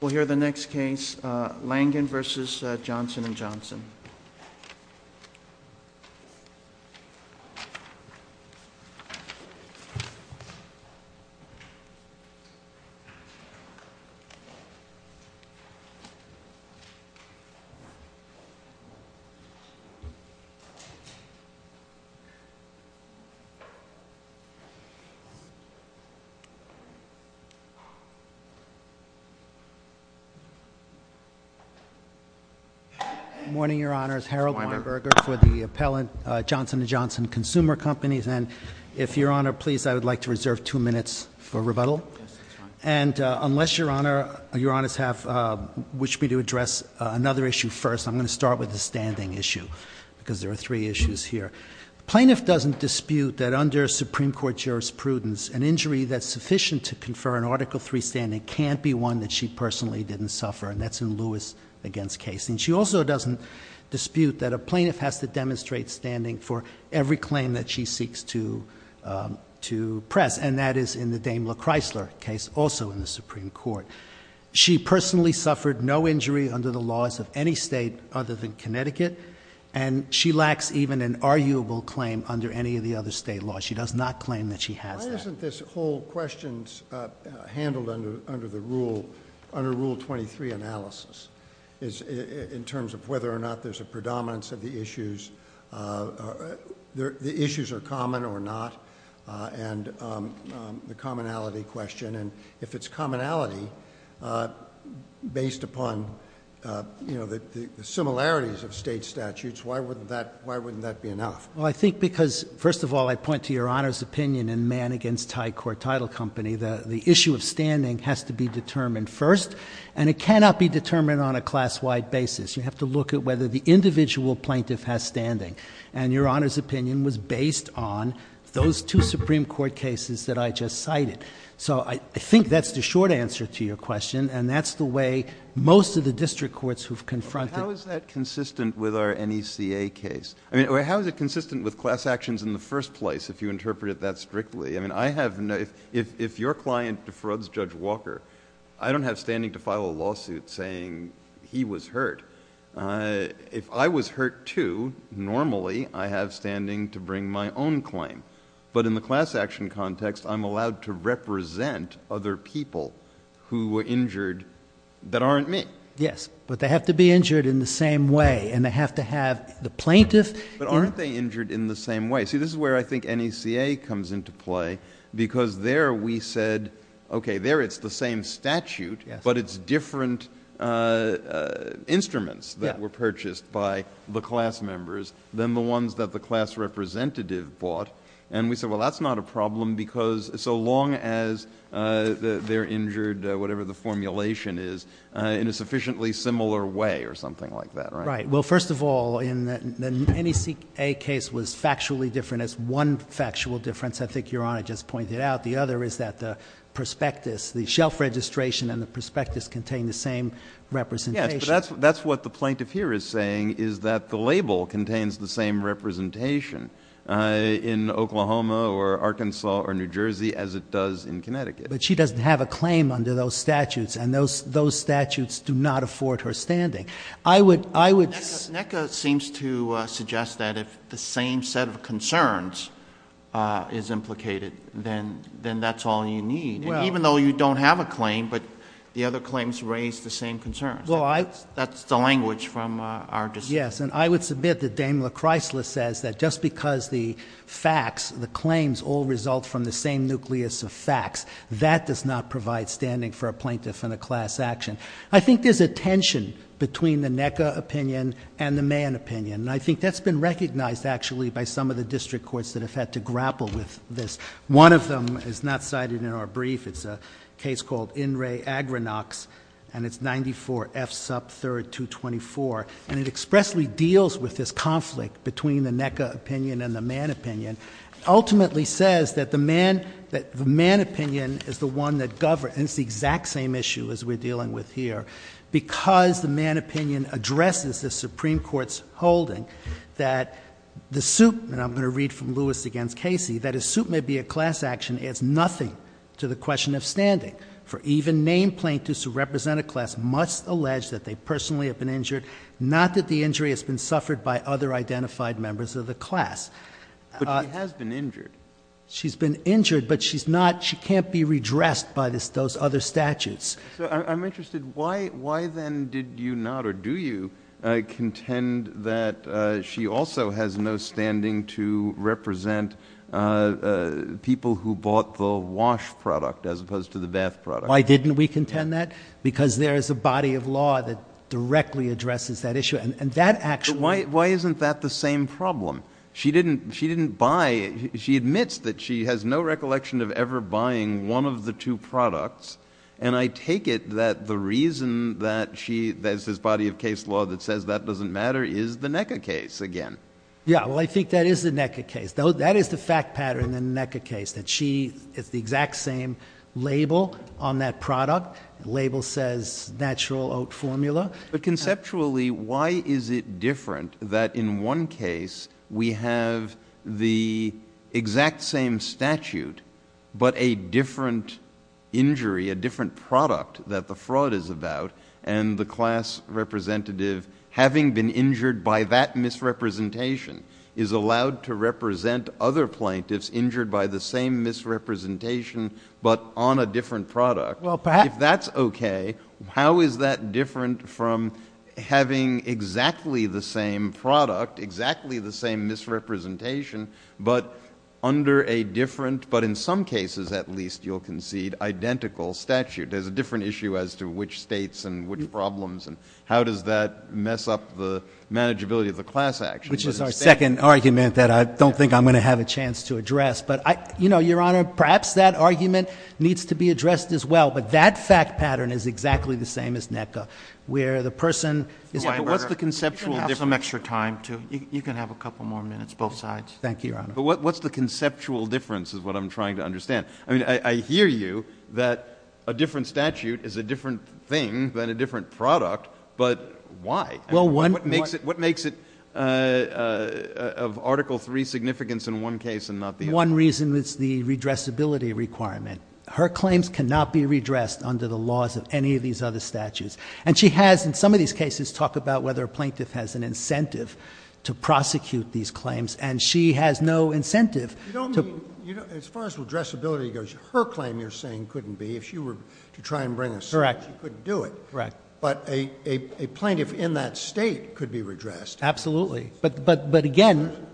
We'll hear the next case, Langan v. Johnson & Johnson. Good morning, Your Honors. Harold Weinberger for the appellant, Johnson & Johnson Consumer Companies, and if Your Honor, please, I would like to reserve two minutes for rebuttal. And unless Your Honors wish me to address another issue first, I'm going to start with the standing issue, because there are three issues here. The plaintiff doesn't dispute that under Supreme Court jurisprudence, an injury that's sufficient to confer an Article III standing can't be one that she personally didn't suffer, and that's in Lewis v. Case. And she also doesn't dispute that a plaintiff has to demonstrate standing for every claim that she seeks to press, and that is in the Dame LaChrysler case, also in the Supreme Court. She personally suffered no injury under the laws of any state other than Connecticut, and she lacks even an arguable claim under any of the other state laws. She does not claim that she has that. Why isn't this whole question handled under Rule 23 analysis, in terms of whether or not there's a predominance of the issues, the issues are common or not, and the commonality question? And if it's commonality based upon the similarities of state statutes, why wouldn't that be enough? Well, I think because, first of all, I point to Your Honor's opinion in Mann v. Tidecourt Title Company, the issue of standing has to be determined first, and it cannot be determined on a class-wide basis. You have to look at whether the individual plaintiff has standing, and Your Honor's opinion was based on those two Supreme Court cases that I just cited. So I think that's the short answer to your question, and that's the way most of the district courts have confronted it. How is that consistent with our NECA case? I mean, how is it consistent with class actions in the first place, if you interpret it that strictly? I mean, if your client defrauds Judge Walker, I don't have standing to file a lawsuit saying he was hurt. If I was hurt, too, normally I have standing to bring my own claim. But in the class action context, I'm allowed to represent other people who were injured that aren't me. Yes, but they have to be injured in the same way, and they have to have the plaintiff. But aren't they injured in the same way? See, this is where I think NECA comes into play, because there we said, okay, there it's the same statute, but it's different instruments that were purchased by the class members than the ones that the class representative bought. And we said, well, that's not a problem, because so long as they're injured, whatever the formulation is, in a sufficiently similar way or something like that, right? Right. Well, first of all, the NECA case was factually different. It's one factual difference I think Your Honor just pointed out. The other is that the prospectus, the shelf registration and the prospectus contain the same representation. Yes, but that's what the plaintiff here is saying, is that the label contains the same representation. In Oklahoma or Arkansas or New Jersey as it does in Connecticut. But she doesn't have a claim under those statutes, and those statutes do not afford her standing. NECA seems to suggest that if the same set of concerns is implicated, then that's all you need. Even though you don't have a claim, but the other claims raise the same concerns. That's the language from our district. Yes, and I would submit that Daniel Chrysler says that just because the facts, the claims all result from the same nucleus of facts, that does not provide standing for a plaintiff in a class action. I think there's a tension between the NECA opinion and the Mann opinion. And I think that's been recognized actually by some of the district courts that have had to grapple with this. One of them is not cited in our brief. It's a case called In Re Agrinox, and it's 94F sub 3224. And it expressly deals with this conflict between the NECA opinion and the Mann opinion. Ultimately says that the Mann opinion is the one that governs, and it's the exact same issue as we're dealing with here. Because the Mann opinion addresses the Supreme Court's holding that the suit, and I'm going to read from Lewis against Casey, that a suit may be a class action adds nothing to the question of standing. For even named plaintiffs who represent a class must allege that they personally have been injured, not that the injury has been suffered by other identified members of the class. But she has been injured. She's been injured, but she's not, she can't be redressed by those other statutes. So I'm interested, why then did you not, or do you, contend that she also has no standing to represent people who bought the wash product as opposed to the bath product? Why didn't we contend that? Because there is a body of law that directly addresses that issue, and that actually- But why isn't that the same problem? She admits that she has no recollection of ever buying one of the two products, and I take it that the reason that she, there's this body of case law that says that doesn't matter, is the NECA case again. Yeah, well I think that is the NECA case. That is the fact pattern in the NECA case, that she, it's the exact same label on that product. The label says natural oat formula. But conceptually, why is it different that in one case we have the exact same statute, but a different injury, a different product that the fraud is about, and the class representative, having been injured by that misrepresentation, is allowed to represent other plaintiffs injured by the same misrepresentation, but on a different product? If that's okay, how is that different from having exactly the same product, exactly the same misrepresentation, but under a different, but in some cases at least you'll concede, identical statute? There's a different issue as to which states and which problems, and how does that mess up the manageability of the class action? Which is our second argument that I don't think I'm going to have a chance to address. Your Honor, perhaps that argument needs to be addressed as well, but that fact pattern is exactly the same as NECA, where the person is... What's the conceptual difference? You can have some extra time, too. You can have a couple more minutes, both sides. Thank you, Your Honor. What's the conceptual difference is what I'm trying to understand. I hear you, that a different statute is a different thing than a different product, but why? What makes it of Article III significance in one case and not the other? One reason is the redressability requirement. Her claims cannot be redressed under the laws of any of these other statutes, and she has in some of these cases talked about whether a plaintiff has an incentive to prosecute these claims, and she has no incentive to... You don't mean, as far as redressability goes, her claim you're saying couldn't be. If she were to try and bring a suit, she couldn't do it. Correct. But a plaintiff in that state could be redressed. Absolutely, but again...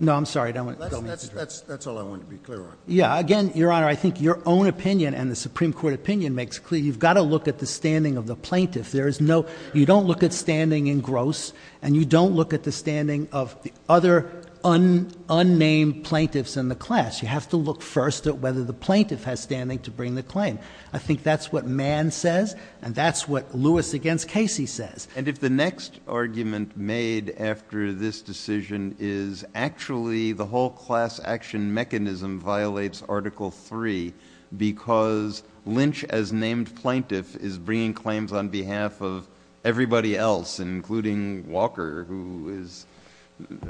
No, I'm sorry. That's all I wanted to be clear on. Yeah, again, Your Honor, I think your own opinion and the Supreme Court opinion makes clear you've got to look at the standing of the plaintiff. You don't look at standing in Gross, and you don't look at the standing of the other unnamed plaintiffs in the class. You have to look first at whether the plaintiff has standing to bring the claim. I think that's what Mann says, and that's what Lewis against Casey says. And if the next argument made after this decision is actually the whole class action mechanism violates Article 3 because Lynch, as named plaintiff, is bringing claims on behalf of everybody else, including Walker, who is,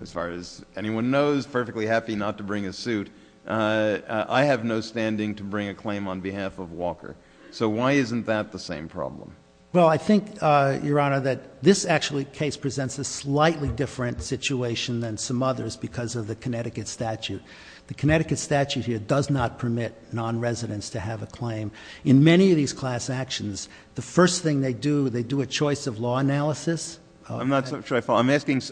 as far as anyone knows, perfectly happy not to bring a suit, I have no standing to bring a claim on behalf of Walker. So why isn't that the same problem? Well, I think, Your Honor, that this actually case presents a slightly different situation than some others because of the Connecticut statute. The Connecticut statute here does not permit non-residents to have a claim. In many of these class actions, the first thing they do, they do a choice of law analysis. I'm not sure I follow. I'm asking,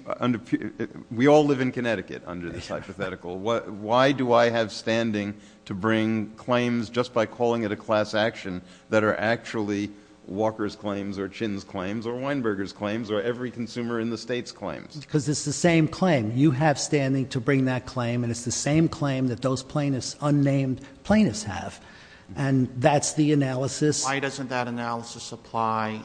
we all live in Connecticut under this hypothetical. Why do I have standing to bring claims just by calling it a class action that are actually Walker's claims or Chin's claims or Weinberger's claims or every consumer in the state's claims? Because it's the same claim. You have standing to bring that claim, and it's the same claim that those plaintiffs, unnamed plaintiffs, have. And that's the analysis. Why doesn't that analysis apply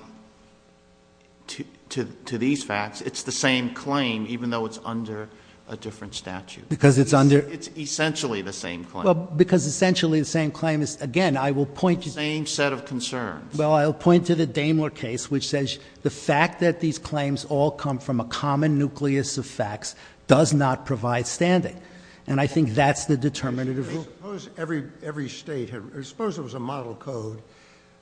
to these facts? It's the same claim, even though it's under a different statute. Because it's under... It's essentially the same claim. Well, because essentially the same claim is, again, I will point to... The same set of concerns. Well, I'll point to the Daimler case, which says the fact that these claims all come from a common nucleus of facts does not provide standing. And I think that's the determinative rule. Suppose every state had... Suppose there was a model code,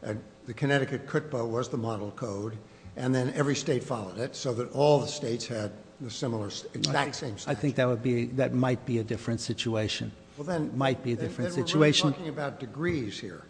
and the Connecticut CUTPA was the model code, and then every state followed it so that all the states had the similar, exact same statute. I think that would be... That might be a different situation. Well, then... Might be a different situation. Then we're talking about degrees here.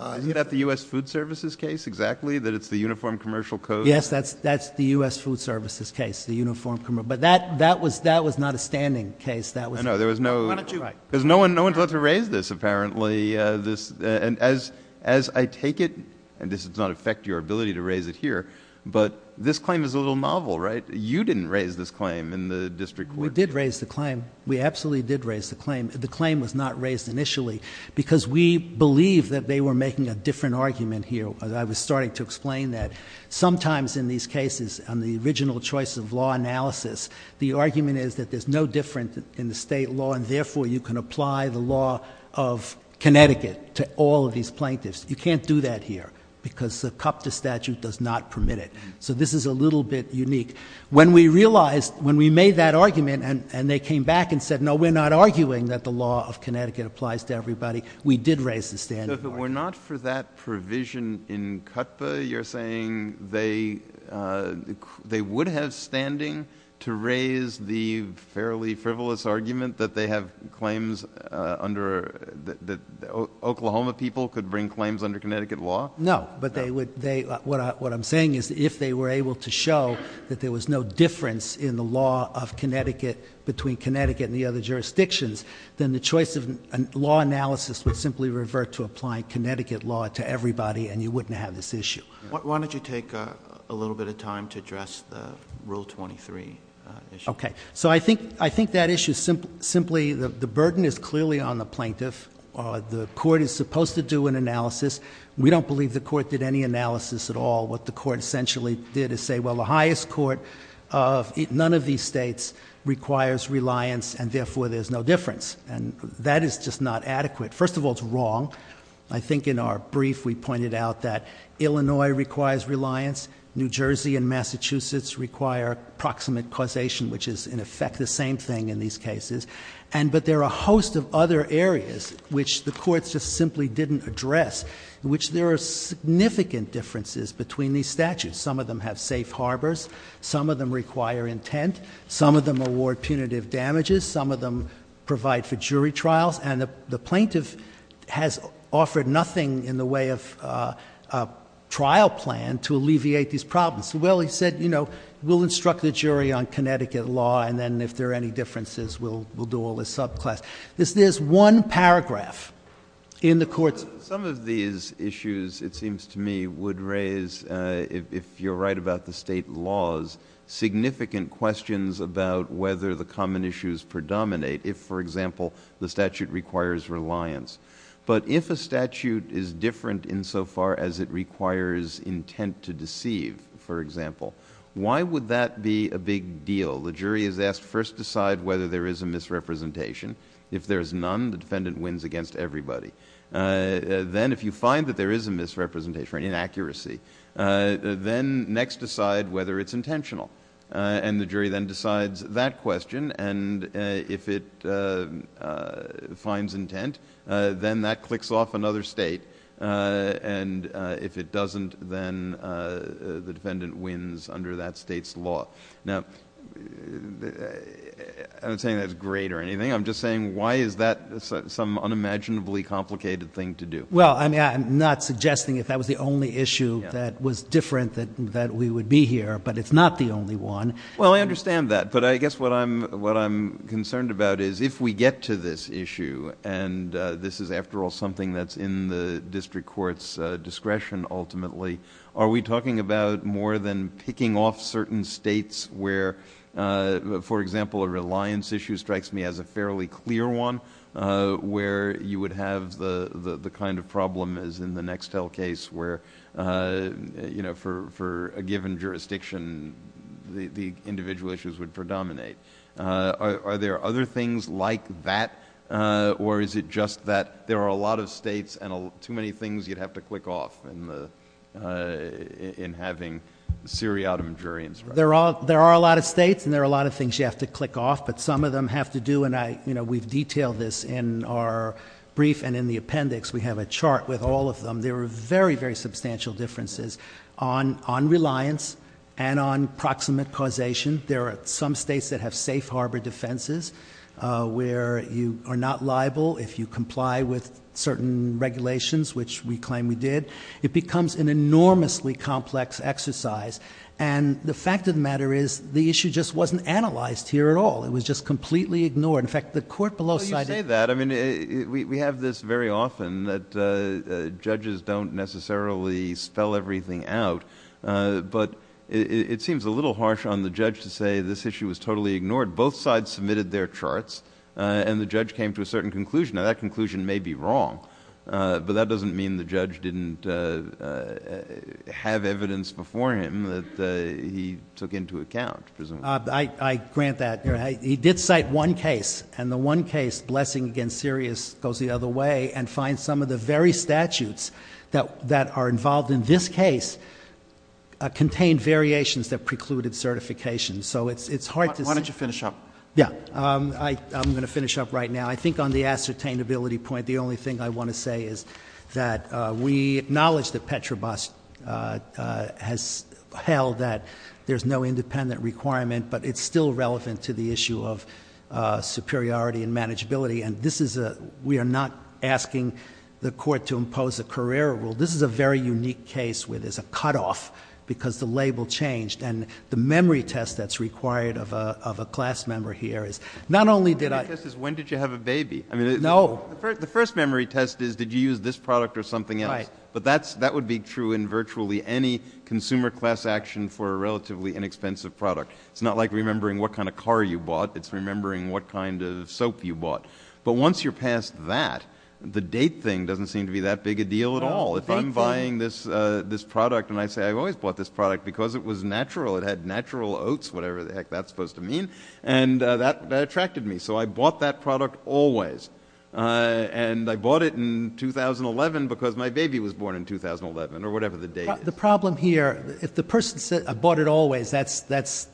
Isn't that the U.S. Food Services case, exactly, that it's the uniform commercial code? Yes, that's the U.S. Food Services case, the uniform... But that was not a standing case. I know. There was no... Why don't you... Because no one thought to raise this, apparently. And as I take it... And this does not affect your ability to raise it here, but this claim is a little novel, right? You didn't raise this claim in the district court. We did raise the claim. We absolutely did raise the claim. The claim was not raised initially because we believe that they were making a different argument here. I was starting to explain that. Sometimes in these cases, on the original choice of law analysis, the argument is that there's no difference in the state law, and therefore you can apply the law of Connecticut to all of these plaintiffs. You can't do that here because the CUPTA statute does not permit it. So this is a little bit unique. When we realized, when we made that argument and they came back and said, no, we're not arguing that the law of Connecticut applies to everybody, we did raise the standing argument. But if it were not for that provision in CUPTA, you're saying they would have standing to raise the fairly frivolous argument that they have claims under... that Oklahoma people could bring claims under Connecticut law? No. What I'm saying is if they were able to show that there was no difference in the law of Connecticut between Connecticut and the other jurisdictions, then the choice of law analysis would simply revert to applying Connecticut law to everybody and you wouldn't have this issue. Why don't you take a little bit of time to address the Rule 23 issue? Okay. So I think that issue simply, the burden is clearly on the plaintiff. The court is supposed to do an analysis. We don't believe the court did any analysis at all. What the court essentially did is say, well, the highest court of none of these states requires reliance and, therefore, there's no difference. And that is just not adequate. First of all, it's wrong. I think in our brief we pointed out that Illinois requires reliance, New Jersey and Massachusetts require proximate causation, which is, in effect, the same thing in these cases. But there are a host of other areas which the courts just simply didn't address in which there are significant differences between these statutes. Some of them have safe harbors. Some of them require intent. Some of them award punitive damages. Some of them provide for jury trials. And the plaintiff has offered nothing in the way of a trial plan to alleviate these problems. Well, he said, you know, we'll instruct the jury on Connecticut law and then, if there are any differences, we'll do all the subclass. There's one paragraph in the courts. Some of these issues, it seems to me, would raise, if you're right about the state laws, significant questions about whether the common issues predominate, if, for example, the statute requires reliance. But if a statute is different insofar as it requires intent to deceive, for example, why would that be a big deal? The jury is asked to first decide whether there is a misrepresentation. If there is none, the defendant wins against everybody. Then, if you find that there is a misrepresentation or inaccuracy, then next decide whether it's intentional. And the jury then decides that question. And if it finds intent, then that clicks off another state. And if it doesn't, then the defendant wins under that state's law. Now, I'm not saying that's great or anything. I'm just saying why is that some unimaginably complicated thing to do? Well, I'm not suggesting if that was the only issue that was different that we would be here, but it's not the only one. Well, I understand that. But I guess what I'm concerned about is if we get to this issue, and this is, after all, something that's in the district court's discretion ultimately, are we talking about more than picking off certain states where, for example, a reliance issue strikes me as a fairly clear one, where you would have the kind of problem as in the Nextel case where, you know, for a given jurisdiction, the individual issues would predominate. Are there other things like that, or is it just that there are a lot of states and too many things you'd have to click off in having Siri out of injurians? There are a lot of states and there are a lot of things you have to click off, but some of them have to do, and we've detailed this in our brief and in the appendix. We have a chart with all of them. There are very, very substantial differences on reliance and on proximate causation. There are some states that have safe harbor defenses where you are not liable if you comply with certain regulations, which we claim we did. It becomes an enormously complex exercise, and the fact of the matter is the issue just wasn't analyzed here at all. It was just completely ignored. In fact, the court below cited it. Well, you say that. I mean, we have this very often that judges don't necessarily spell everything out, but it seems a little harsh on the judge to say this issue was totally ignored. Both sides submitted their charts, and the judge came to a certain conclusion. Now, that conclusion may be wrong, but that doesn't mean the judge didn't have evidence before him that he took into account. I grant that. He did cite one case, and the one case, blessing against Sirius, goes the other way and finds some of the very statutes that are involved in this case Why don't you finish up? Yeah. I'm going to finish up right now. I think on the ascertainability point, the only thing I want to say is that we acknowledge that Petrobras has held that there's no independent requirement, but it's still relevant to the issue of superiority and manageability, and we are not asking the court to impose a career rule. This is a very unique case where there's a cutoff because the label changed, and the memory test that's required of a class member here is not only did I The memory test is when did you have a baby. No. The first memory test is did you use this product or something else. Right. But that would be true in virtually any consumer class action for a relatively inexpensive product. It's not like remembering what kind of car you bought. It's remembering what kind of soap you bought. But once you're past that, the date thing doesn't seem to be that big a deal at all. If I'm buying this product and I say I always bought this product because it was natural, it had natural oats, whatever the heck that's supposed to mean, and that attracted me. So I bought that product always. And I bought it in 2011 because my baby was born in 2011 or whatever the date is. The problem here, if the person said I bought it always, that's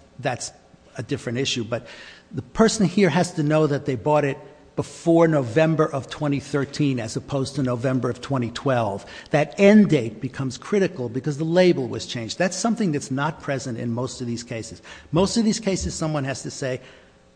a different issue. But the person here has to know that they bought it before November of 2013 as opposed to November of 2012. That end date becomes critical because the label was changed. That's something that's not present in most of these cases. Most of these cases someone has to say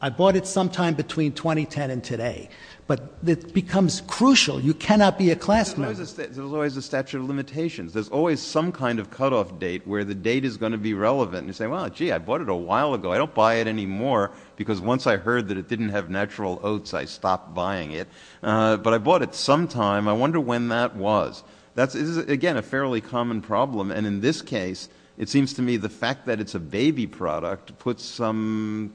I bought it sometime between 2010 and today. But it becomes crucial. You cannot be a class man. There's always a statute of limitations. There's always some kind of cutoff date where the date is going to be relevant. And you say, well, gee, I bought it a while ago. I don't buy it anymore because once I heard that it didn't have natural oats, I stopped buying it. But I bought it sometime. I wonder when that was. That is, again, a fairly common problem. And in this case, it seems to me the fact that it's a baby product puts some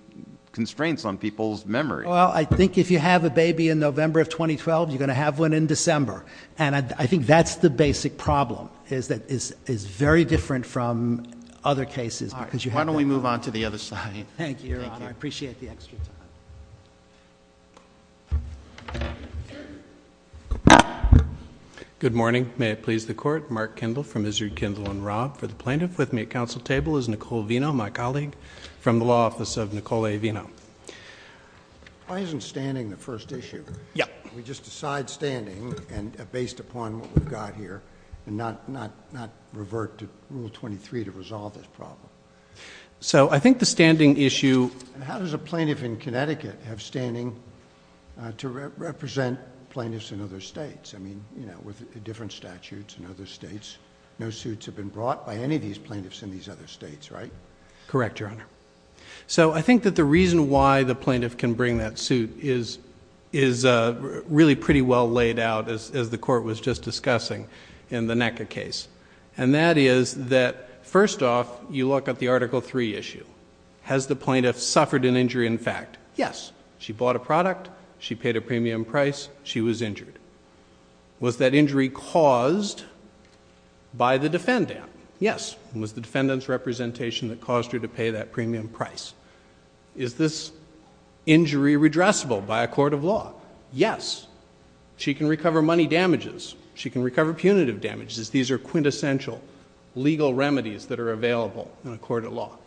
constraints on people's memory. Well, I think if you have a baby in November of 2012, you're going to have one in December. And I think that's the basic problem, is that it's very different from other cases. Why don't we move on to the other slide? Thank you, Your Honor. I appreciate the extra time. Good morning. May it please the Court. Mark Kendall from Israel Kendall and Robb. For the plaintiff with me at council table is Nicole Vino, my colleague from the law office of Nicole A. Vino. Why isn't standing the first issue? Yeah. We just decide standing based upon what we've got here and not revert to Rule 23 to resolve this problem. So I think the standing issue. How does a plaintiff in Connecticut have standing to represent plaintiffs in other states? I mean, you know, with different statutes in other states, no suits have been brought by any of these plaintiffs in these other states, right? Correct, Your Honor. So I think that the reason why the plaintiff can bring that suit is really pretty well laid out, as the Court was just discussing in the NECA case. And that is that first off, you look at the Article III issue. Has the plaintiff suffered an injury in fact? Yes. She bought a product. She paid a premium price. She was injured. Was that injury caused by the defendant? Yes. It was the defendant's representation that caused her to pay that premium price. Is this injury redressable by a court of law? Yes. She can recover money damages. She can recover punitive damages. These are quintessential legal remedies that are available in a court of law.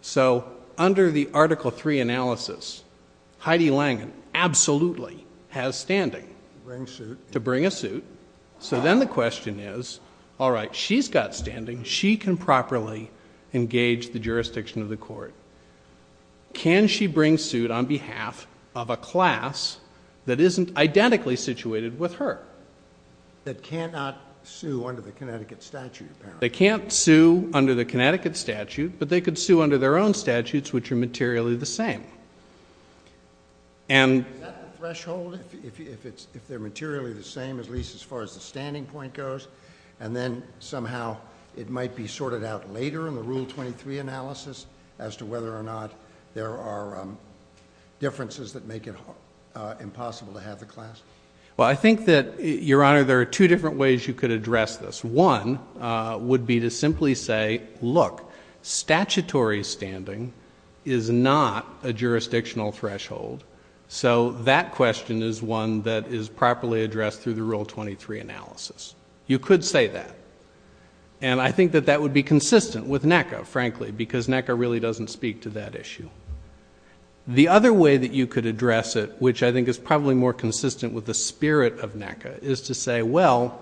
So under the Article III analysis, Heidi Langen absolutely has standing to bring a suit. So then the question is, all right, she's got standing. She can properly engage the jurisdiction of the court. Can she bring suit on behalf of a class that isn't identically situated with her? That cannot sue under the Connecticut statute, apparently. They can't sue under the Connecticut statute, but they could sue under their own statutes which are materially the same. Is that the threshold, if they're materially the same, at least as far as the standing point goes? And then somehow it might be sorted out later in the Rule 23 analysis as to whether or not there are differences that make it impossible to have the class? Well, I think that, Your Honor, there are two different ways you could address this. One would be to simply say, look, statutory standing is not a jurisdictional threshold, so that question is one that is properly addressed through the Rule 23 analysis. You could say that. And I think that that would be consistent with NECA, frankly, because NECA really doesn't speak to that issue. The other way that you could address it, which I think is probably more consistent with the spirit of NECA, is to say, well,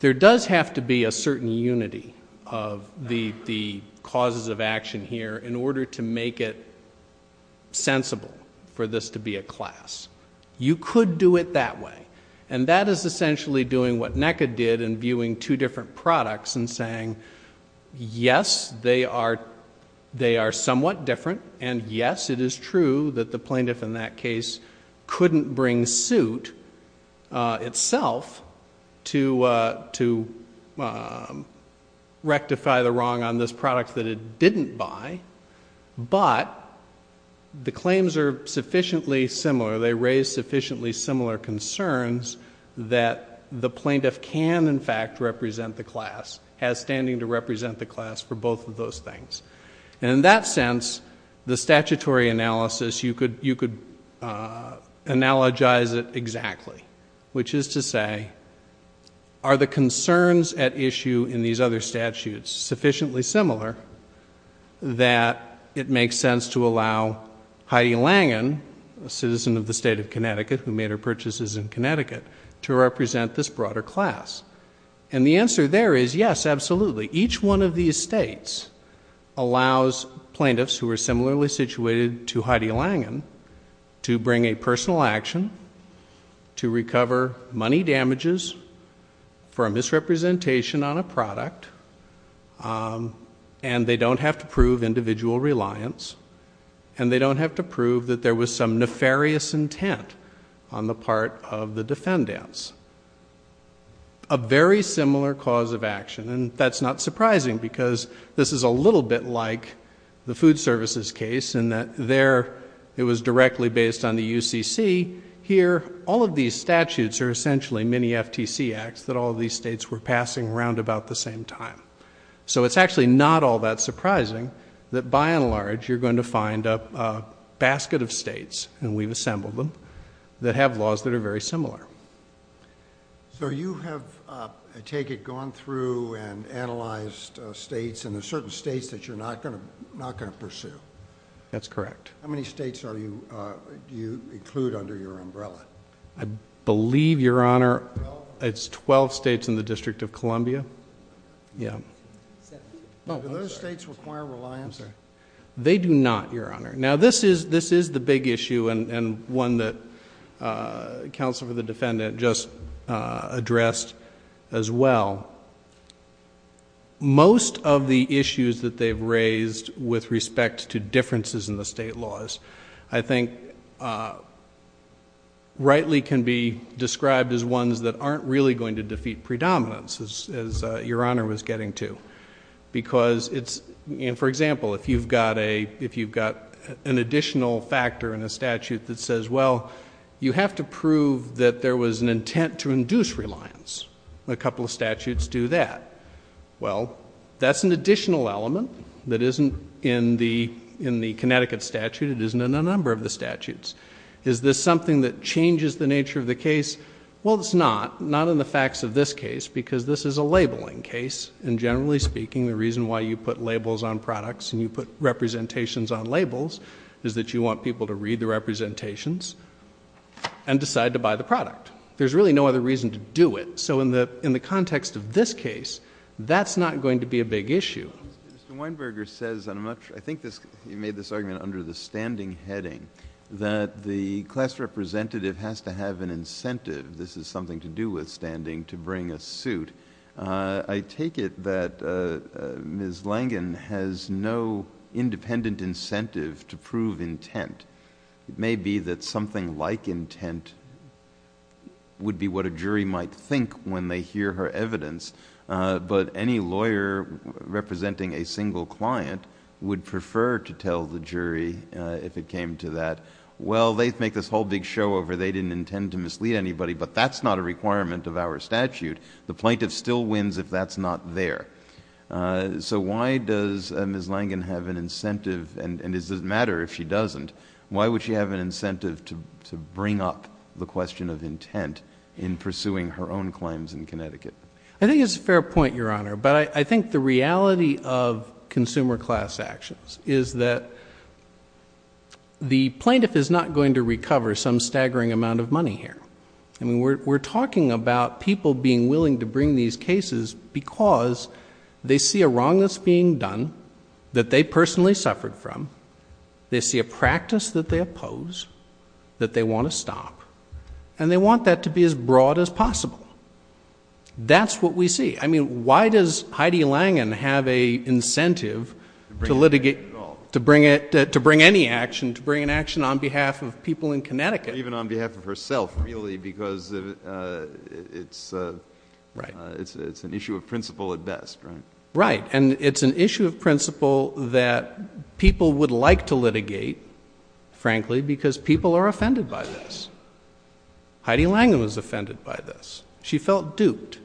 there does have to be a certain unity of the causes of action here in order to make it sensible for this to be a class. You could do it that way, and that is essentially doing what NECA did in viewing two different products and saying, yes, they are somewhat different, and yes, it is true that the plaintiff in that case couldn't bring suit itself to rectify the wrong on this product that it didn't buy, but the claims are sufficiently similar. They raise sufficiently similar concerns that the plaintiff can, in fact, represent the class, has standing to represent the class for both of those things. And in that sense, the statutory analysis, you could analogize it exactly, which is to say, are the concerns at issue in these other statutes sufficiently similar that it makes sense to allow Heidi Langen, a citizen of the state of Connecticut who made her purchases in Connecticut, to represent this broader class? And the answer there is yes, absolutely. Each one of these states allows plaintiffs who are similarly situated to Heidi Langen to bring a personal action to recover money damages for a misrepresentation on a product and they don't have to prove individual reliance and they don't have to prove that there was some nefarious intent on the part of the defendants. A very similar cause of action, and that's not surprising because this is a little bit like the food services case in that there it was directly based on the UCC. Here, all of these statutes are essentially mini FTC acts that all of these states were passing around about the same time. So it's actually not all that surprising that, by and large, you're going to find a basket of states, and we've assembled them, that have laws that are very similar. So you have, I take it, gone through and analyzed states and there are certain states that you're not going to pursue. How many states do you include under your umbrella? I believe, Your Honor, it's twelve states in the District of Columbia. Do those states require reliance? They do not, Your Honor. Now, this is the big issue and one that Counsel for the Defendant just addressed as well. Most of the issues that they've raised with respect to differences in the state laws, I think rightly can be described as ones that aren't really going to defeat predominance, as Your Honor was getting to. Because, for example, if you've got an additional factor in a statute that says, well, you have to prove that there was an intent to induce reliance. A couple of statutes do that. Well, that's an additional element that isn't in the Connecticut statute. It isn't in a number of the statutes. Is this something that changes the nature of the case? Well, it's not. Not in the facts of this case because this is a labeling case. And generally speaking, the reason why you put labels on products and you put representations on labels is that you want people to read the representations and decide to buy the product. There's really no other reason to do it. So in the context of this case, that's not going to be a big issue. Mr. Weinberger says, and I think he made this argument under the standing heading, that the class representative has to have an incentive, this is something to do with standing, to bring a suit. I take it that Ms. Langen has no independent incentive to prove intent. It may be that something like intent would be what a jury might think when they hear her evidence, but any lawyer representing a single client would prefer to tell the jury if it came to that, well, they make this whole big show over, they didn't intend to mislead anybody, but that's not a requirement of our statute. The plaintiff still wins if that's not there. So why does Ms. Langen have an incentive, and does it matter if she doesn't, why would she have an incentive to bring up the question of intent in pursuing her own claims in Connecticut? I think it's a fair point, Your Honor, but I think the reality of consumer class actions is that the plaintiff is not going to recover some staggering amount of money here. We're talking about people being willing to bring these cases because they see a wrongness being done that they personally suffered from, they see a practice that they oppose, that they want to stop, and they want that to be as broad as possible. That's what we see. I mean, why does Heidi Langen have an incentive to bring any action, to bring an action on behalf of people in Connecticut? Even on behalf of herself, really, because it's an issue of principle at best, right? Right, and it's an issue of principle that people would like to litigate, frankly, because people are offended by this. Heidi Langen was offended by this. She felt duped,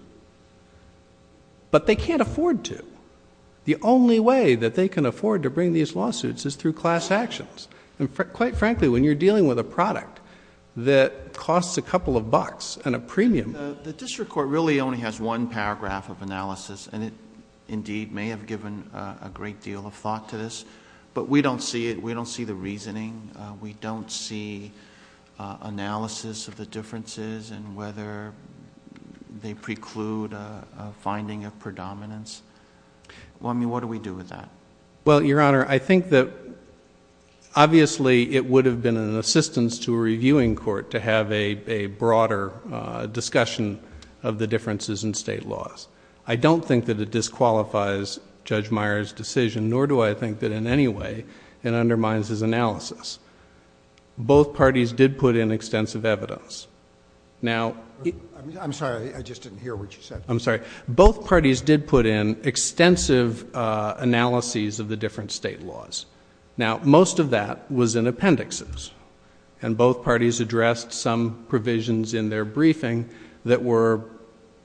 but they can't afford to. The only way that they can afford to bring these lawsuits is through class actions, and quite frankly, when you're dealing with a product that costs a couple of bucks and a premium... The district court really only has one paragraph of analysis, and it indeed may have given a great deal of thought to this, but we don't see it. We don't see analysis of the differences and whether they preclude a finding of predominance. Well, I mean, what do we do with that? Well, Your Honor, I think that obviously it would have been an assistance to a reviewing court to have a broader discussion of the differences in state laws. I don't think that it disqualifies Judge Meyer's decision, nor do I think that in any way it undermines his analysis. Both parties did put in extensive evidence. Now... I'm sorry. I just didn't hear what you said. I'm sorry. Both parties did put in extensive analyses of the different state laws. Now, most of that was in appendixes, and both parties addressed some provisions in their briefing that were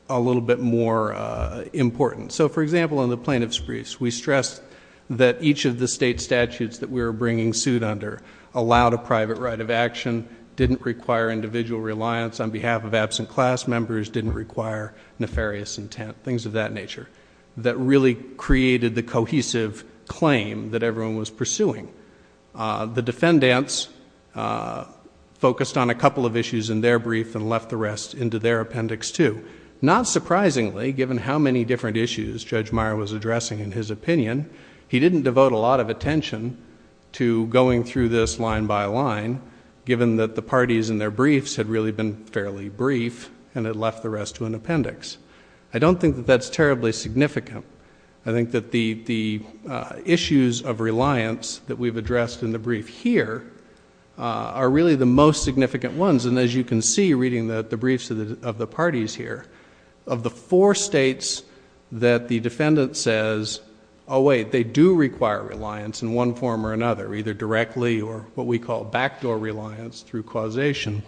a little bit more important. So, for example, in the plaintiff's briefs, we stressed that each of the state statutes that we were bringing suit under allowed a private right of action, didn't require individual reliance on behalf of absent class members, didn't require nefarious intent, things of that nature, that really created the cohesive claim that everyone was pursuing. The defendants focused on a couple of issues in their brief and left the rest into their appendix, too. Not surprisingly, given how many different issues Judge Meyer was addressing in his opinion, he didn't devote a lot of attention to going through this line by line, given that the parties in their briefs had really been fairly brief and had left the rest to an appendix. I don't think that that's terribly significant. I think that the issues of reliance that we've addressed in the brief here are really the most significant ones, and as you can see reading the briefs of the parties here, of the four states that the defendant says, oh wait, they do require reliance in one form or another, either directly or what we call backdoor reliance through causation,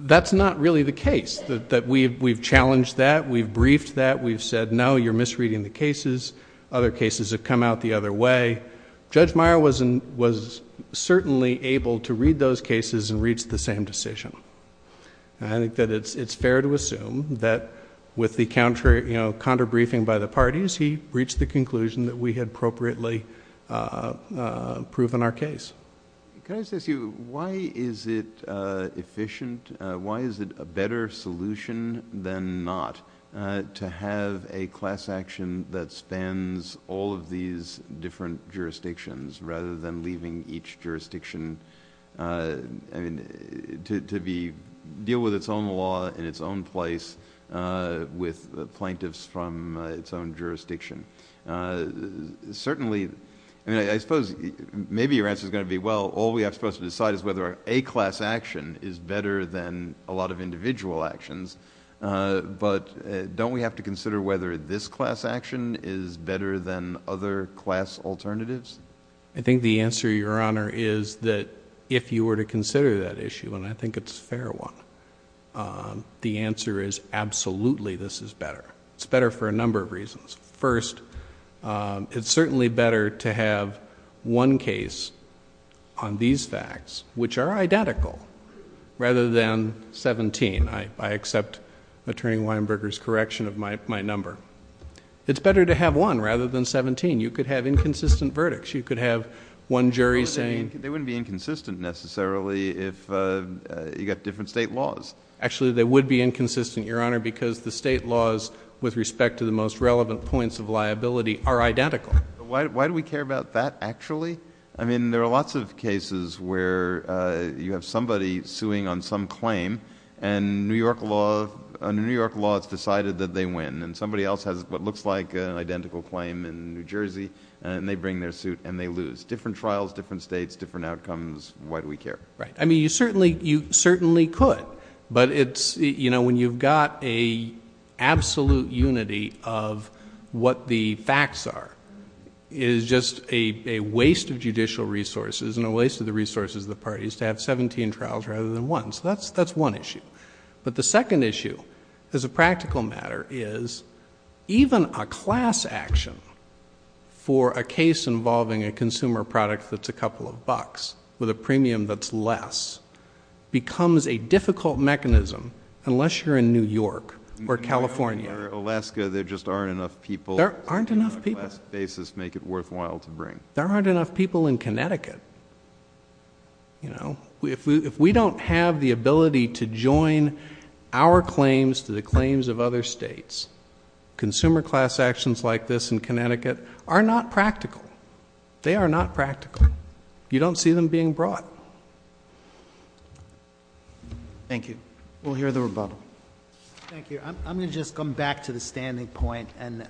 that's not really the case, that we've challenged that, we've briefed that, we've said no, you're misreading the cases, other cases have come out the other way. Judge Meyer was certainly able to read those cases and reach the same decision. I think that it's fair to assume that with the counter-briefing by the parties, he reached the conclusion that we had appropriately proven our case. Can I just ask you, why is it efficient, why is it a better solution than not, to have a class action that spans all of these different jurisdictions, rather than leaving each jurisdiction to deal with its own law in its own place, with plaintiffs from its own jurisdiction? Certainly, I suppose maybe your answer is going to be, well, all we have to decide is whether a class action is better than a lot of individual actions, but don't we have to consider whether this class action is better than other class alternatives? I think the answer, Your Honor, is that if you were to consider that issue, and I think it's a fair one, the answer is absolutely this is better. It's better for a number of reasons. First, it's certainly better to have one case on these facts, which are identical, rather than 17. I accept Attorney Weinberger's correction of my number. It's better to have one rather than 17. You could have inconsistent verdicts. You could have one jury saying... They wouldn't be inconsistent necessarily if you got different state laws. Actually, they would be inconsistent, Your Honor, because the state laws with respect to the most relevant points of liability are identical. Why do we care about that, actually? I mean, there are lots of cases where you have somebody suing on some claim, and New York law has decided that they win, and somebody else has what looks like an identical claim in New Jersey, and they bring their suit and they lose. Different trials, different states, different outcomes. Why do we care? Right. I mean, you certainly could, but when you've got an absolute unity of what the facts are, it is just a waste of judicial resources and a waste of the resources of the parties to have 17 trials rather than one. So that's one issue. But the second issue, as a practical matter, is even a class action for a case involving a consumer product that's a couple of bucks with a premium that's less becomes a difficult mechanism, unless you're in New York or California. Or Alaska. There just aren't enough people. There aren't enough people. On a class basis, make it worthwhile to bring. There aren't enough people in Connecticut. If we don't have the ability to join our claims to the claims of other states, consumer class actions like this in Connecticut are not practical. They are not practical. You don't see them being brought. Thank you. We'll hear the rebuttal. Thank you. I'm going to just come back to the standing point and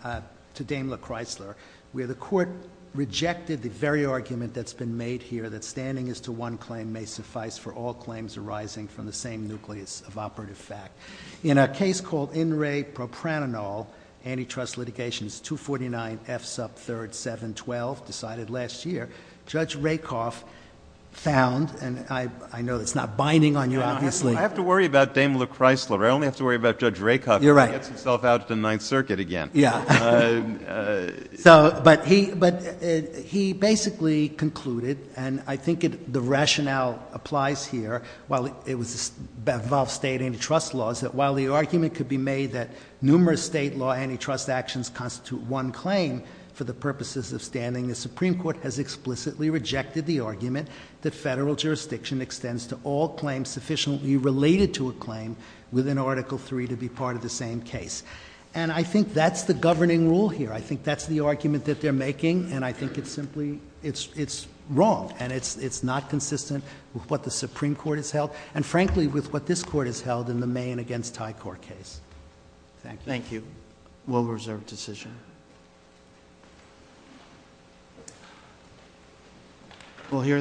to Dame LaChrysler, where the Court rejected the very argument that's been made here, that standing as to one claim may suffice for all claims arising from the same nucleus of operative fact. In a case called In Re Propranol, antitrust litigation, 249F sub 3rd, 712, decided last year, Judge Rakoff found, and I know it's not binding on you, obviously. I have to worry about Dame LaChrysler. I only have to worry about Judge Rakoff if he gets himself out to the Ninth Circuit again. Yeah. But he basically concluded, and I think the rationale applies here, while it involves state antitrust laws, that while the argument could be made that numerous state law antitrust actions constitute one claim for the purposes of standing, the Supreme Court has explicitly rejected the argument that Federal jurisdiction extends to all claims sufficiently related to a claim within Article III to be part of the same case. And I think that's the governing rule here. I think that's the argument that they're making, and I think it's simply wrong, and it's not consistent with what the Supreme Court has held, and frankly with what this Court has held in the Mayan against Thai Court case. Thank you. Thank you. We'll reserve decision.